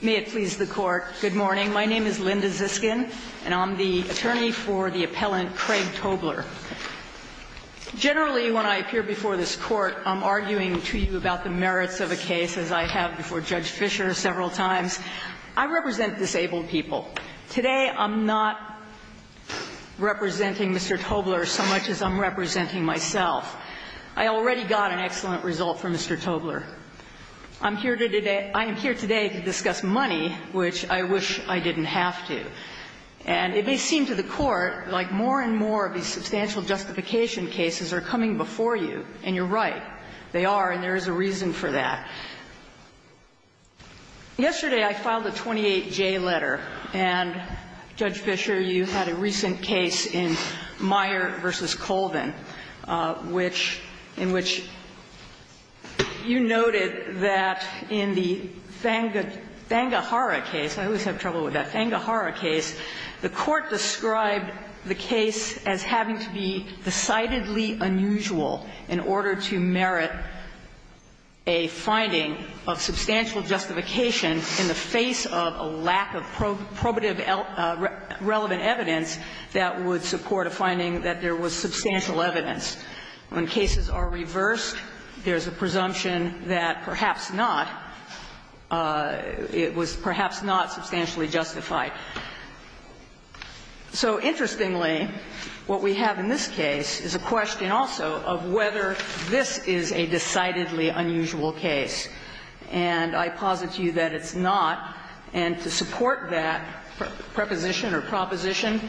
May it please the Court, good morning. My name is Linda Ziskin, and I'm the attorney for the appellant Craig Tobler. Generally, when I appear before this Court, I'm arguing to you about the merits of a case, as I have before Judge Fischer several times. I represent disabled people. Today, I'm not representing Mr. Tobler so much as I'm representing myself. I already got an excellent result for Mr. Tobler. I'm here today to discuss money, which I wish I didn't have to. And it may seem to the Court like more and more of these substantial justification cases are coming before you, and you're right. They are, and there is a reason for that. Yesterday, I filed a 28J letter, and, Judge Fischer, you had a recent case in Meyer v. Colvin, which you noted that in the Thangahara case, I always have trouble with that, Thangahara case, the Court described the case as having to be decidedly unusual in order to merit a finding of substantial justification in the face of a lack of probative relevant evidence that would support a finding that there was substantial evidence. When cases are reversed, there's a presumption that perhaps not, it was perhaps not substantially justified. So interestingly, what we have in this case is a question also of whether this is a decidedly unusual case. And I posit to you that it's not. And to support that preposition or proposition,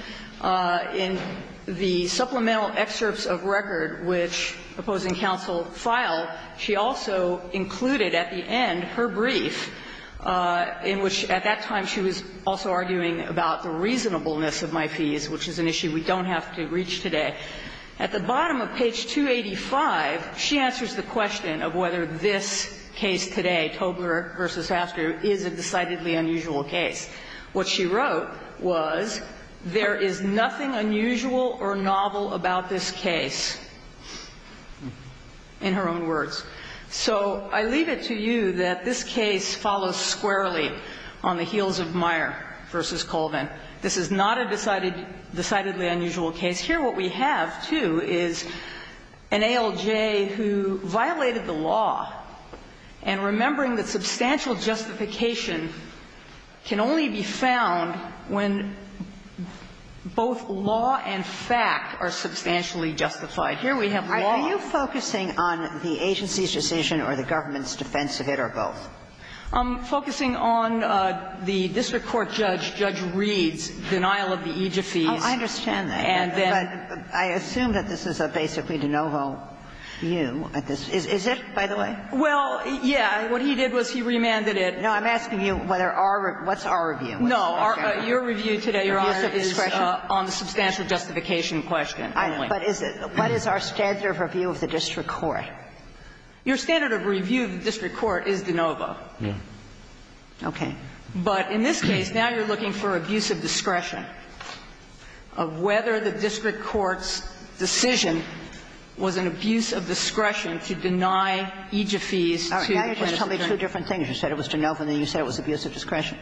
in the supplemental excerpts of record which opposing counsel filed, she also included at the end her brief, in which at that time she was also arguing about the reasonableness of my fees, which is an issue we don't have to reach today. At the bottom of page 285, she answers the question of whether this case today, Tobler v. Hasker, is a decidedly unusual case. What she wrote was, there is nothing unusual or novel about this case, in her own words. So I leave it to you that this case follows squarely on the heels of Meyer v. Colvin. This is not a decidedly unusual case. Here what we have, too, is an ALJ who violated the law, and remembering that substantial justification can only be found when both law and fact are substantially justified. Here we have law. Kagan. Are you focusing on the agency's decision or the government's defense of it, or both? I'm focusing on the district court judge, Judge Reed's denial of the AIGA fees. Oh, I understand that. But I assume that this is a basically de novo view. Is it, by the way? Well, yeah. What he did was he remanded it. No, I'm asking you whether our review – what's our review? No, your review today, Your Honor, is on the substantial justification question only. But is it – what is our standard of review of the district court? Your standard of review of the district court is de novo. Okay. But in this case, now you're looking for abuse of discretion of whether the district court's decision was an abuse of discretion to deny AIGA fees to the district court. Now you're trying to tell me two different things. You said it was de novo, and then you said it was abuse of discretion.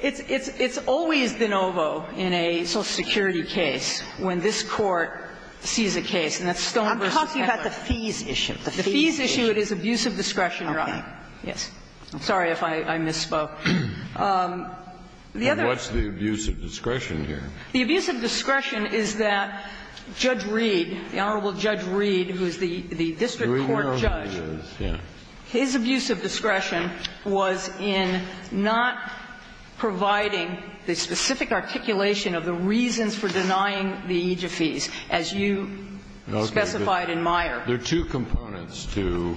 It's always de novo in a Social Security case when this Court sees a case, and that's Stone v. Heffernan. I'm talking about the fees issue. The fees issue, it is abuse of discretion, Your Honor. Okay. Yes. I'm sorry if I misspoke. The other – What's the abuse of discretion here? The abuse of discretion is that Judge Reed, the Honorable Judge Reed, who is the district court judge, his abuse of discretion was in not providing the specific articulation of the reasons for denying the AIGA fees, as you specified in Meyer. Okay. There are two components to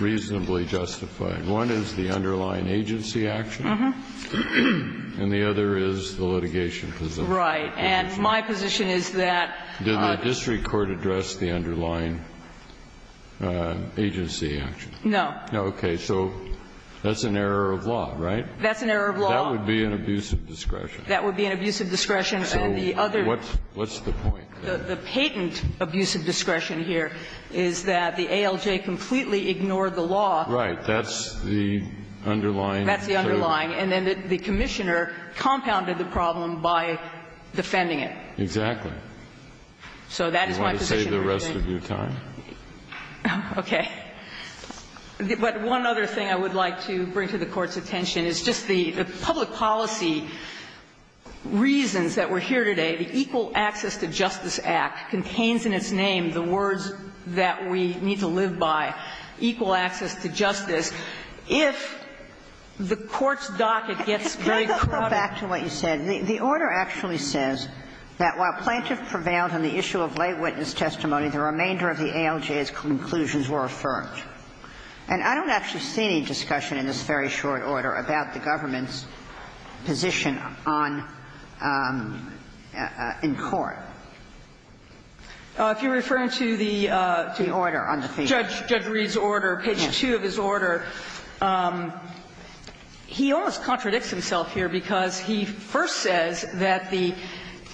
reasonably justified. One is the underlying agency action, and the other is the litigation position. Right. And my position is that the district court addressed the underlying agency action. No. No. Okay. So that's an error of law, right? That's an error of law. That would be an abuse of discretion. That would be an abuse of discretion. So what's the point? The patent abuse of discretion here is that the ALJ completely ignored the law. Right. That's the underlying. That's the underlying. And then the Commissioner compounded the problem by defending it. Exactly. So that is my position. Do you want to save the rest of your time? Okay. But one other thing I would like to bring to the Court's attention is just the public policy reasons that we're here today. The Equal Access to Justice Act contains in its name the words that we need to live by, equal access to justice. If the Court's docket gets very crowded. Can I just go back to what you said? The order actually says that while plaintiff prevailed on the issue of lay witness testimony, the remainder of the ALJ's conclusions were affirmed. And I don't actually see any discussion in this very short order about the government's position on the court. If you're referring to the order on the field. In Judge Reed's order, page 2 of his order, he almost contradicts himself here because he first says that the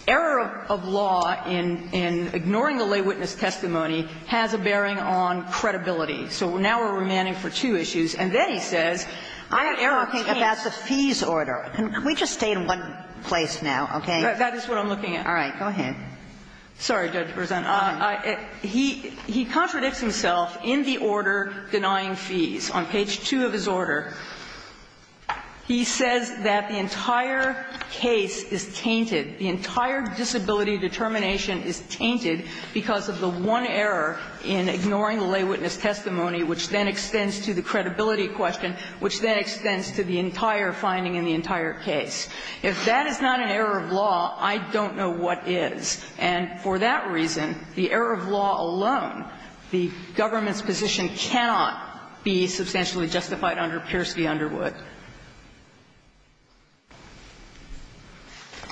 error of law in ignoring the lay witness testimony has a bearing on credibility. So now we're remanding for two issues. And then he says the error of case. I'm talking about the fees order. Can we just stay in one place now, okay? That is what I'm looking at. All right. Go ahead. Sorry, Judge Berzant. He contradicts himself in the order denying fees. On page 2 of his order, he says that the entire case is tainted, the entire disability determination is tainted because of the one error in ignoring the lay witness testimony, which then extends to the credibility question, which then extends to the entire finding in the entire case. If that is not an error of law, I don't know what is. And for that reason, the error of law alone, the government's position cannot be substantially justified under Pierce v. Underwood.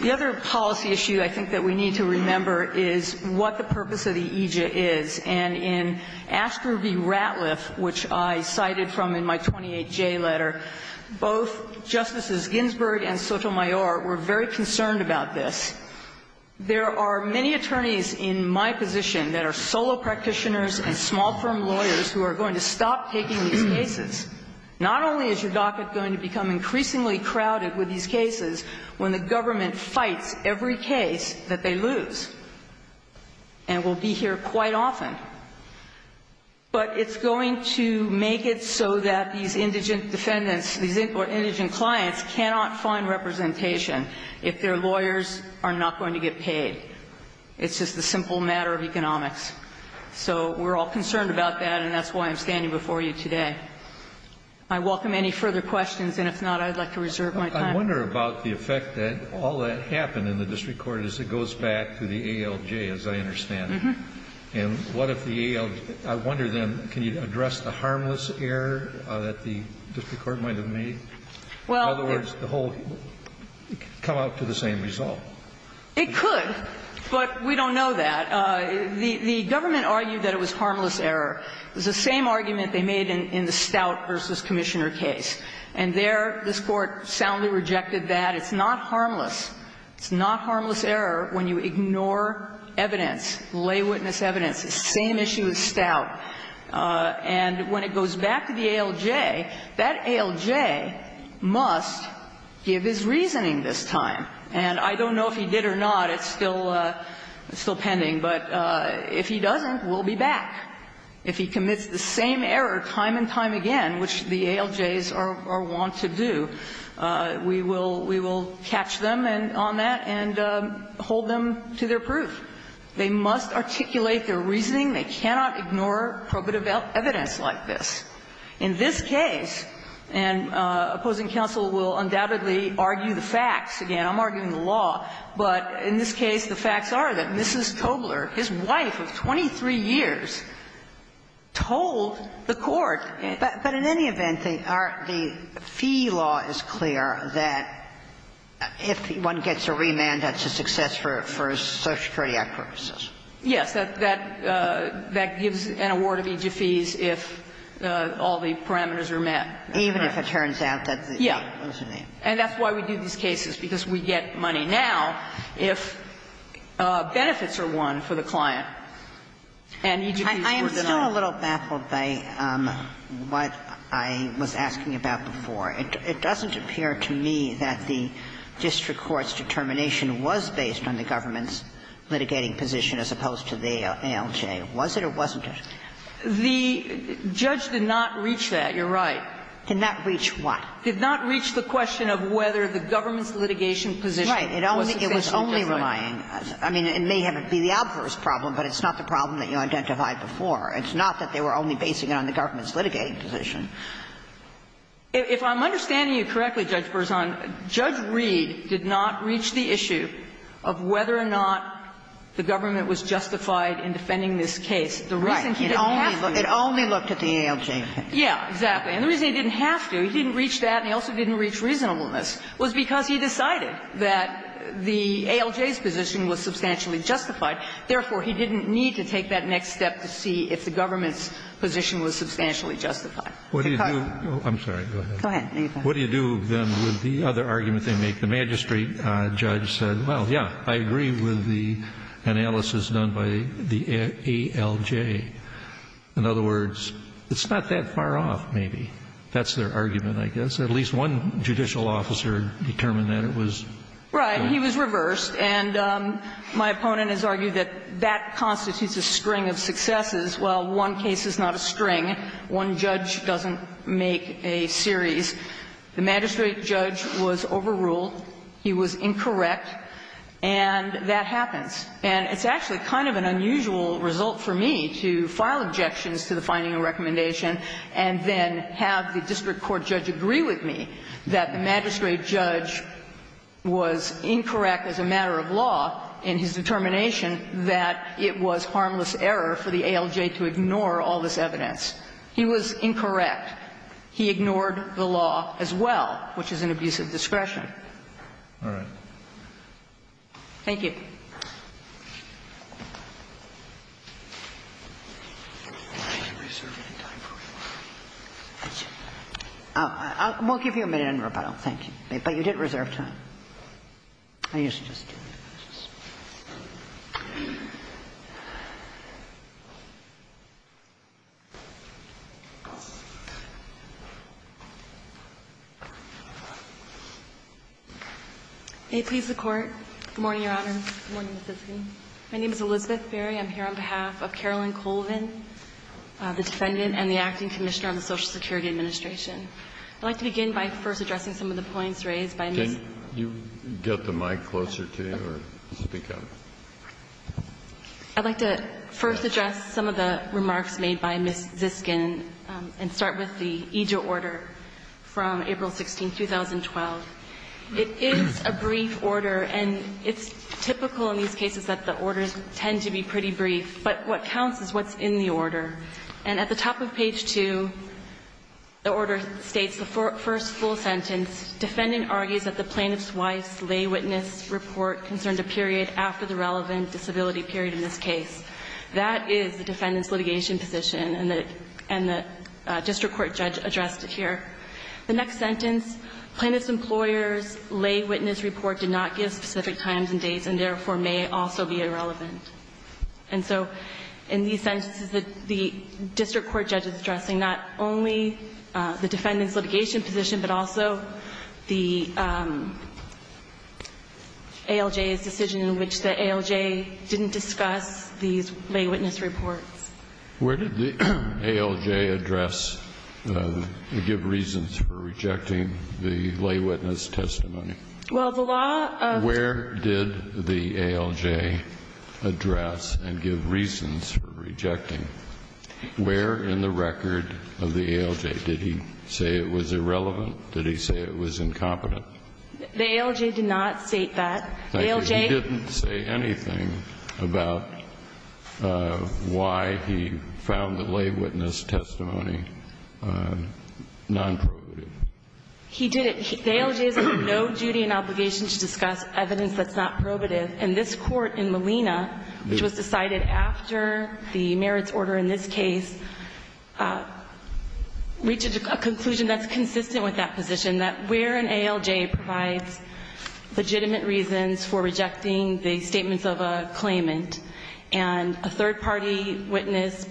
The other policy issue I think that we need to remember is what the purpose of the AJA is. And in Ashter v. Ratliff, which I cited from in my 28J letter, both Justices Ginsburg and Sotomayor were very concerned about this. There are many attorneys in my position that are solo practitioners and small firm lawyers who are going to stop taking these cases. Not only is your docket going to become increasingly crowded with these cases when the government fights every case that they lose and will be here quite often, but it's going to make it so that these indigent defendants, these indigent clients cannot find representation if their lawyers are not going to get paid. It's just a simple matter of economics. So we're all concerned about that, and that's why I'm standing before you today. I welcome any further questions, and if not, I would like to reserve my time. Kennedy. I wonder about the effect that all that happened in the district court as it goes back to the ALJ, as I understand it. And what if the ALJ – I wonder, then, can you address the harmless error that the district court might have made? In other words, the whole – come out to the same result. It could, but we don't know that. The government argued that it was harmless error. It was the same argument they made in the Stout v. Commissioner case. And there, this Court soundly rejected that. It's not harmless. It's not harmless error when you ignore evidence, lay witness evidence. It's the same issue with Stout. And when it goes back to the ALJ, that ALJ must give his reasoning this time. And I don't know if he did or not. It's still pending. But if he doesn't, we'll be back. If he commits the same error time and time again, which the ALJs are wont to do, we will catch them on that and hold them to their proof. They must articulate their reasoning. They cannot ignore probative evidence like this. In this case, and opposing counsel will undoubtedly argue the facts. Again, I'm arguing the law. But in this case, the facts are that Mrs. Tobler, his wife of 23 years, told the court that the fee law is clear, that if one gets a remand, that's a success for a Social Security Act purposes. Yes. That gives an award of each of fees if all the parameters are met. Even if it turns out that the fee was a name. Yes. And that's why we do these cases, because we get money now if benefits are won for the client and each of fees were denied. I am still a little baffled by what I was asking about before. It doesn't appear to me that the district court's determination was based on the government's litigation position as opposed to the ALJ. Was it or wasn't it? The judge did not reach that, You're right. Did not reach what? Did not reach the question of whether the government's litigation position was sufficient to deny it. Right. It was only relying as to the adverse problem, but it's not the problem that you identified before. It's not that they were only basing it on the government's litigating position. If I'm understanding you correctly, Judge Berzon, Judge Reed did not reach the issue of whether or not the government was justified in defending this case. The reason he didn't have to. Right. It only looked at the ALJ. Yeah, exactly. And the reason he didn't have to, he didn't reach that and he also didn't reach reasonableness, was because he decided that the ALJ's position was substantially justified. Therefore, he didn't need to take that next step to see if the government's position was substantially justified. To cut. I'm sorry. Go ahead. Go ahead. What do you do, then, with the other argument they make? The magistrate judge said, well, yeah, I agree with the analysis done by the ALJ. In other words, it's not that far off, maybe. That's their argument, I guess. At least one judicial officer determined that it was. Right. He was reversed. And my opponent has argued that that constitutes a string of successes. While one case is not a string, one judge doesn't make a series. The magistrate judge was overruled. He was incorrect. And that happens. And it's actually kind of an unusual result for me to file objections to the finding of a recommendation and then have the district court judge agree with me that the magistrate judge was incorrect as a matter of law in his determination that it was harmless error for the ALJ to ignore all this evidence. He was incorrect. He ignored the law as well, which is an abuse of discretion. All right. Thank you. I won't give you a minute on rebuttal. Thank you. But you did reserve time. I guess I'll just do my questions. May it please the Court. Good morning, Your Honor. Good morning, Ms. Hitzken. My name is Elizabeth Berry. I'm here on behalf of Carolyn Colvin, the defendant and the acting commissioner of the Social Security Administration. I'd like to begin by first addressing some of the points raised by Ms. Hitzken. Can you get the mic closer to you or speak up? I'd like to first address some of the remarks made by Ms. Hitzken and start with the EJOR order from April 16, 2012. It is a brief order, and it's typical in these cases that the orders tend to be pretty brief, but what counts is what's in the order. And at the top of page 2, the order states, the first full sentence, defendant argues that the plaintiff's wife's lay witness report concerned a period after the relevant disability period in this case. That is the defendant's litigation position, and the district court judge addressed it here. The next sentence, plaintiff's employer's lay witness report did not give specific times and dates and therefore may also be irrelevant. And so in these sentences, the district court judge is addressing not only the ALJ's decision in which the ALJ didn't discuss these lay witness reports. Where did the ALJ address and give reasons for rejecting the lay witness testimony? Well, the law of Where did the ALJ address and give reasons for rejecting? Where in the record of the ALJ? Did he say it was irrelevant? Did he say it was incompetent? The ALJ did not state that. The ALJ. He didn't say anything about why he found the lay witness testimony nonprobative. He didn't. The ALJ has no duty and obligation to discuss evidence that's not probative. And this Court in Molina, which was decided after the merits order in this case, reached a conclusion that's consistent with that position, that where an ALJ provides legitimate reasons for rejecting the statements of a claimant, and a third-party witness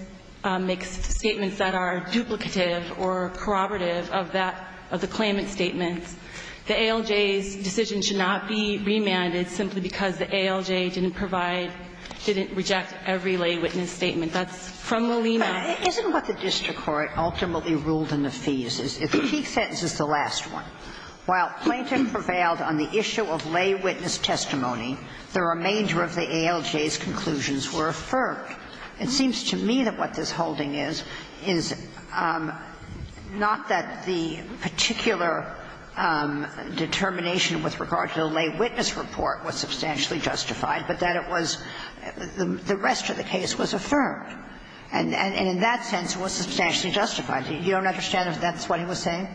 makes statements that are duplicative or corroborative of that, of the claimant's statements, the ALJ's decision should not be remanded simply because the ALJ didn't provide, didn't reject every lay witness statement. That's from Molina. Sotomayor, isn't what the district court ultimately ruled in the fees is, if the key sentence is the last one, while Plainton prevailed on the issue of lay witness testimony, the remainder of the ALJ's conclusions were affirmed. It seems to me that what this holding is, is not that the particular determination with regard to the lay witness report was substantially justified, but that it was the rest of the case was affirmed, and in that sense was substantially justified. You don't understand if that's what he was saying?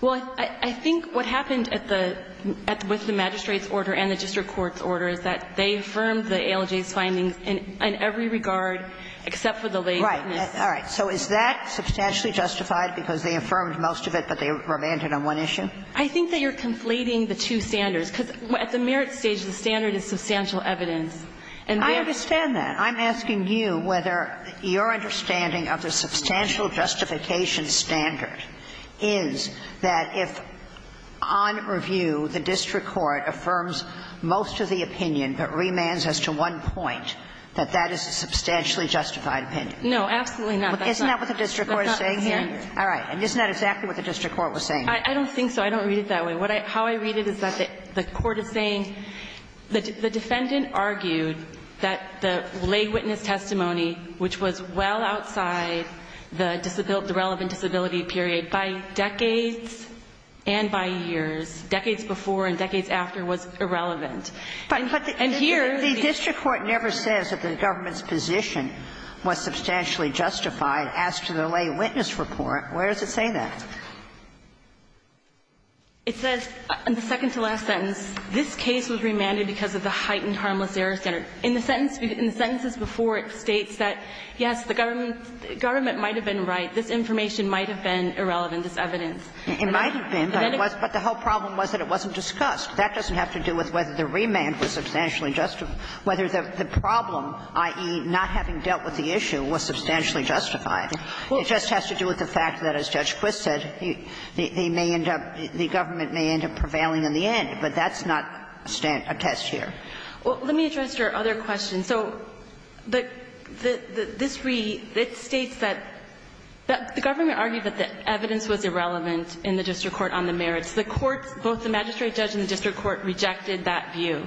Well, I think what happened at the – with the magistrate's order and the district court's order is that they affirmed the ALJ's findings in every regard, except for the lay witness. Right. All right. So is that substantially justified because they affirmed most of it, but they remanded on one issue? I think that you're conflating the two standards, because at the merits stage, the standard is substantial evidence. I understand that. I'm asking you whether your understanding of the substantial justification standard is that if, on review, the district court affirms most of the opinion but remands as to one point, that that is a substantially justified opinion. No, absolutely not. Isn't that what the district court is saying here? All right. And isn't that exactly what the district court was saying? I don't think so. I don't read it that way. What I – how I read it is that the court is saying the defendant argued that the lay witness testimony, which was well outside the relevant disability period by decades and by years, decades before and decades after, was irrelevant. And here the district court never says that the government's position was substantially justified as to the lay witness report. Where does it say that? It says in the second-to-last sentence, this case was remanded because of the heightened harmless error standard. In the sentence before, it states that, yes, the government might have been right. This information might have been irrelevant. This evidence. It might have been, but the whole problem was that it wasn't discussed. That doesn't have to do with whether the remand was substantially justified. Whether the problem, i.e., not having dealt with the issue, was substantially justified. It just has to do with the fact that, as Judge Quist said, they may end up – the government may end up prevailing in the end, but that's not a test here. Well, let me address your other question. So the – this reading, it states that the government argued that the evidence was irrelevant in the district court on the merits. The courts, both the magistrate judge and the district court, rejected that view.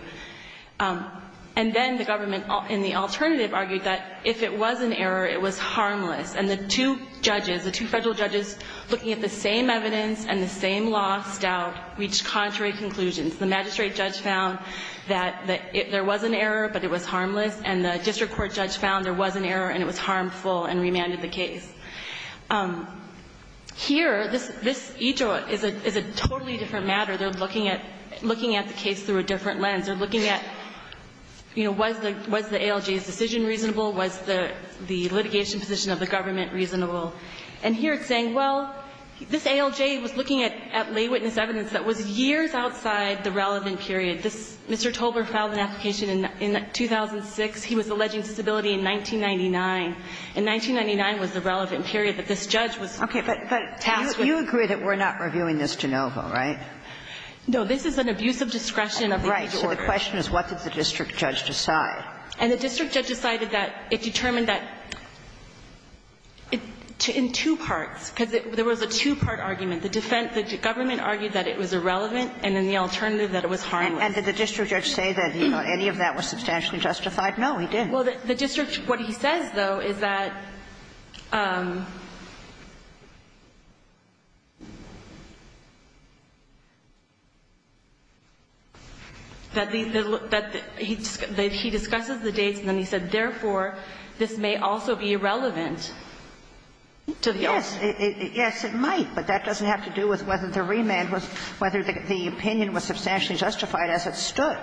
And then the government, in the alternative, argued that if it was an error, it was harmless. The two judges, the two federal judges, looking at the same evidence and the same lost doubt, reached contrary conclusions. The magistrate judge found that there was an error, but it was harmless. And the district court judge found there was an error, and it was harmful, and remanded the case. Here, this – each is a totally different matter. They're looking at – looking at the case through a different lens. They're looking at, you know, was the ALJ's decision reasonable? Was the litigation position of the government reasonable? And here it's saying, well, this ALJ was looking at lay witness evidence that was years outside the relevant period. This – Mr. Tolbert filed an application in 2006. He was alleging disability in 1999. And 1999 was the relevant period that this judge was tasked with. But you agree that we're not reviewing this de novo, right? No. This is an abuse of discretion. Right. So the question is, what did the district judge decide? And the district judge decided that it determined that in two parts, because there was a two-part argument. The defense – the government argued that it was irrelevant, and then the alternative that it was harmless. And did the district judge say that any of that was substantially justified? No, he didn't. Well, the district – what he says, though, is that – that the – that he – that he discusses the dates, and then he said, therefore, this may also be irrelevant to the ALJ. Yes. Yes, it might. But that doesn't have to do with whether the remand was – whether the opinion was substantially justified as it stood.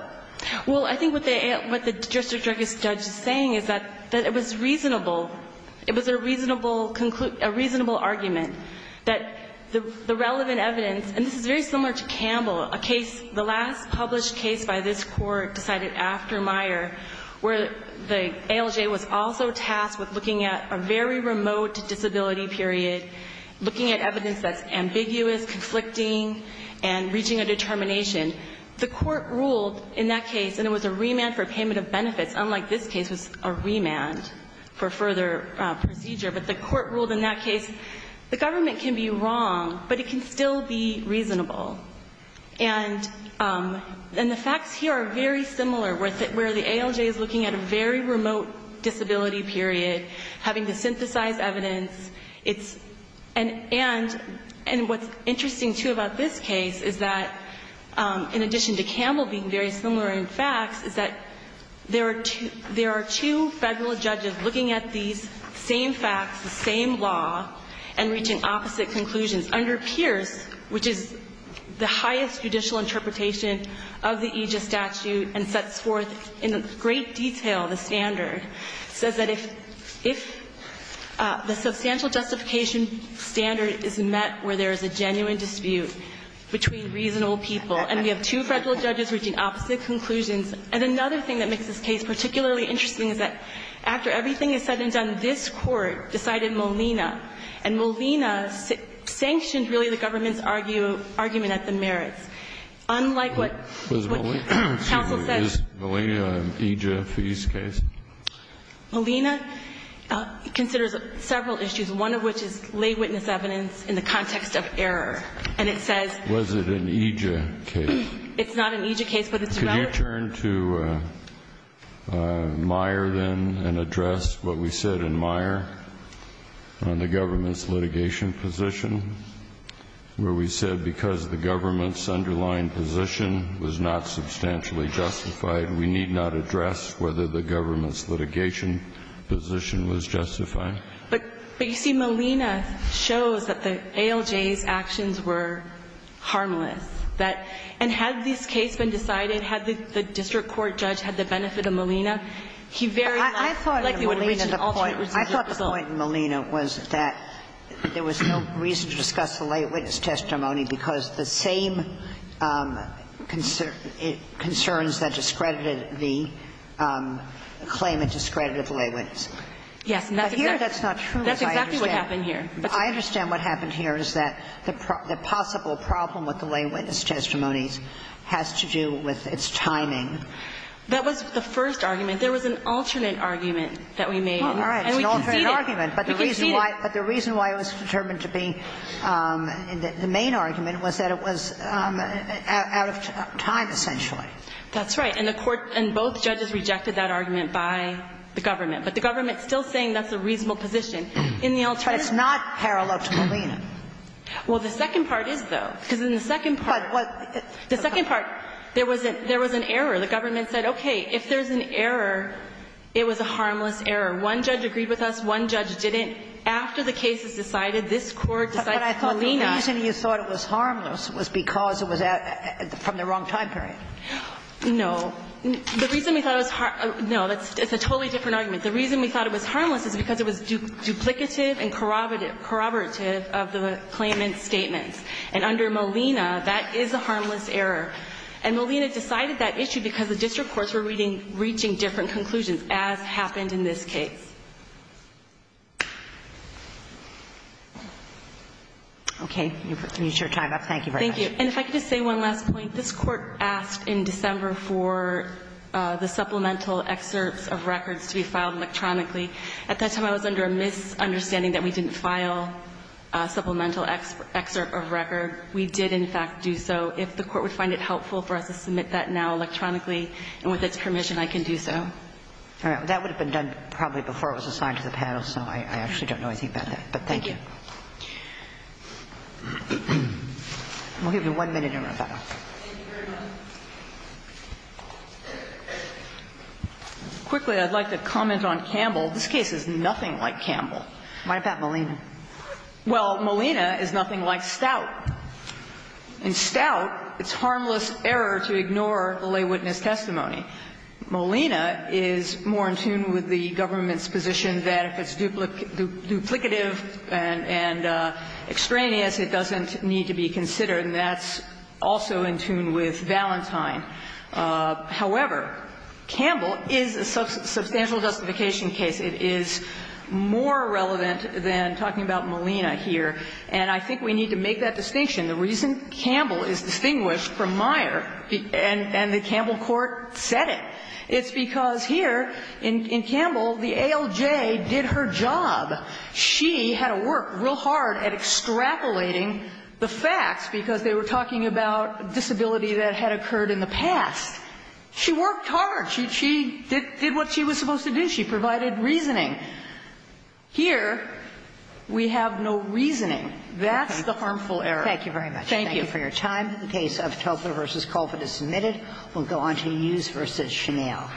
Well, I think what the – what the district judge is saying is that – that it was reasonable. It was a reasonable – a reasonable argument that the relevant evidence – and this is very similar to Campbell, a case – the last published case by this court decided after Meyer, where the ALJ was also tasked with looking at a very remote disability period, looking at evidence that's ambiguous, conflicting, and reaching a determination. The court ruled in that case – and it was a remand for payment of benefits, unlike this case was a remand for further procedure – but the court ruled in that case, the government can be wrong, but it can still be reasonable. And – and the facts here are very similar, where the ALJ is looking at a very remote disability period, having to synthesize evidence. It's – and – and what's interesting, too, about this case is that, in addition to Campbell being very similar in facts, is that there are two – there are two Federal judges looking at these same facts, the same law, and reaching opposite conclusions. Under Pierce, which is the highest judicial interpretation of the Aegis statute and sets forth in great detail the standard, says that if – if the substantial justification standard is met where there is a genuine dispute between reasonable people, and we have two Federal judges reaching opposite conclusions. And another thing that makes this case particularly interesting is that after everything is said and done, this court decided Molina, and Molina sanctioned, really, the government's argument at the merits. Unlike what – what counsel said – Was Molina? Excuse me. Is Molina an Aegis case? Molina considers several issues, one of which is lay witness evidence in the context of error. And it says – Was it an Aegis case? It's not an Aegis case, but it's a rather – Could you turn to Meyer, then, and address what we said in Meyer on the government's underlying position was not substantially justified. We need not address whether the government's litigation position was justified. But, you see, Molina shows that the ALJ's actions were harmless. That – and had this case been decided, had the district court judge had the benefit of Molina, he very likely would have reached an alternate decision. I thought the point in Molina was that there was no reason to discuss the lay witness testimony because the same concerns that discredited the claim had discredited the lay witness. Yes. But here that's not true. That's exactly what happened here. I understand what happened here is that the possible problem with the lay witness testimonies has to do with its timing. That was the first argument. There was an alternate argument that we made. All right. It's an alternate argument. And we conceded. We conceded. But the reason why it was determined to be the main argument was that it was out of time, essentially. That's right. And the court – and both judges rejected that argument by the government. But the government's still saying that's a reasonable position. In the alternative – But it's not parallel to Molina. Well, the second part is, though. Because in the second part – But what – The second part, there was an error. The government said, okay, if there's an error, it was a harmless error. One judge agreed with us. One judge didn't. After the cases decided, this Court decided Molina – But I thought the reason you thought it was harmless was because it was from the wrong time period. No. The reason we thought it was – no, it's a totally different argument. The reason we thought it was harmless is because it was duplicative and corroborative of the claimant's statements. And under Molina, that is a harmless error. And Molina decided that issue because the district courts were reading – reaching different conclusions, as happened in this case. Okay. You've reached your time up. Thank you very much. Thank you. And if I could just say one last point. This Court asked in December for the supplemental excerpts of records to be filed electronically. At that time, I was under a misunderstanding that we didn't file a supplemental excerpt of record. We did, in fact, do so. If the Court would find it helpful for us to submit that now electronically and with its permission, I can do so. All right. That would have been done probably before it was assigned to the panel, so I actually don't know anything about that. But thank you. We'll give you one minute in rebuttal. Thank you very much. Quickly, I'd like to comment on Campbell. This case is nothing like Campbell. Mind about Molina. Well, Molina is nothing like Stout. In Stout, it's harmless error to ignore the lay witness testimony. Molina is more in tune with the government's position that if it's duplicative and extraneous, it doesn't need to be considered. And that's also in tune with Valentine. However, Campbell is a substantial justification case. It is more relevant than talking about Molina here. And I think we need to make that distinction. The reason Campbell is distinguished from Meyer and the Campbell Court said it, it's because here in Campbell, the ALJ did her job. She had to work real hard at extrapolating the facts because they were talking about disability that had occurred in the past. She worked hard. She did what she was supposed to do. She provided reasoning. Here, we have no reasoning. That's the harmful error. Thank you very much. Thank you. Thank you for your time. The case of Topler v. Colford is submitted. We'll go on to Hughes v. Chanel.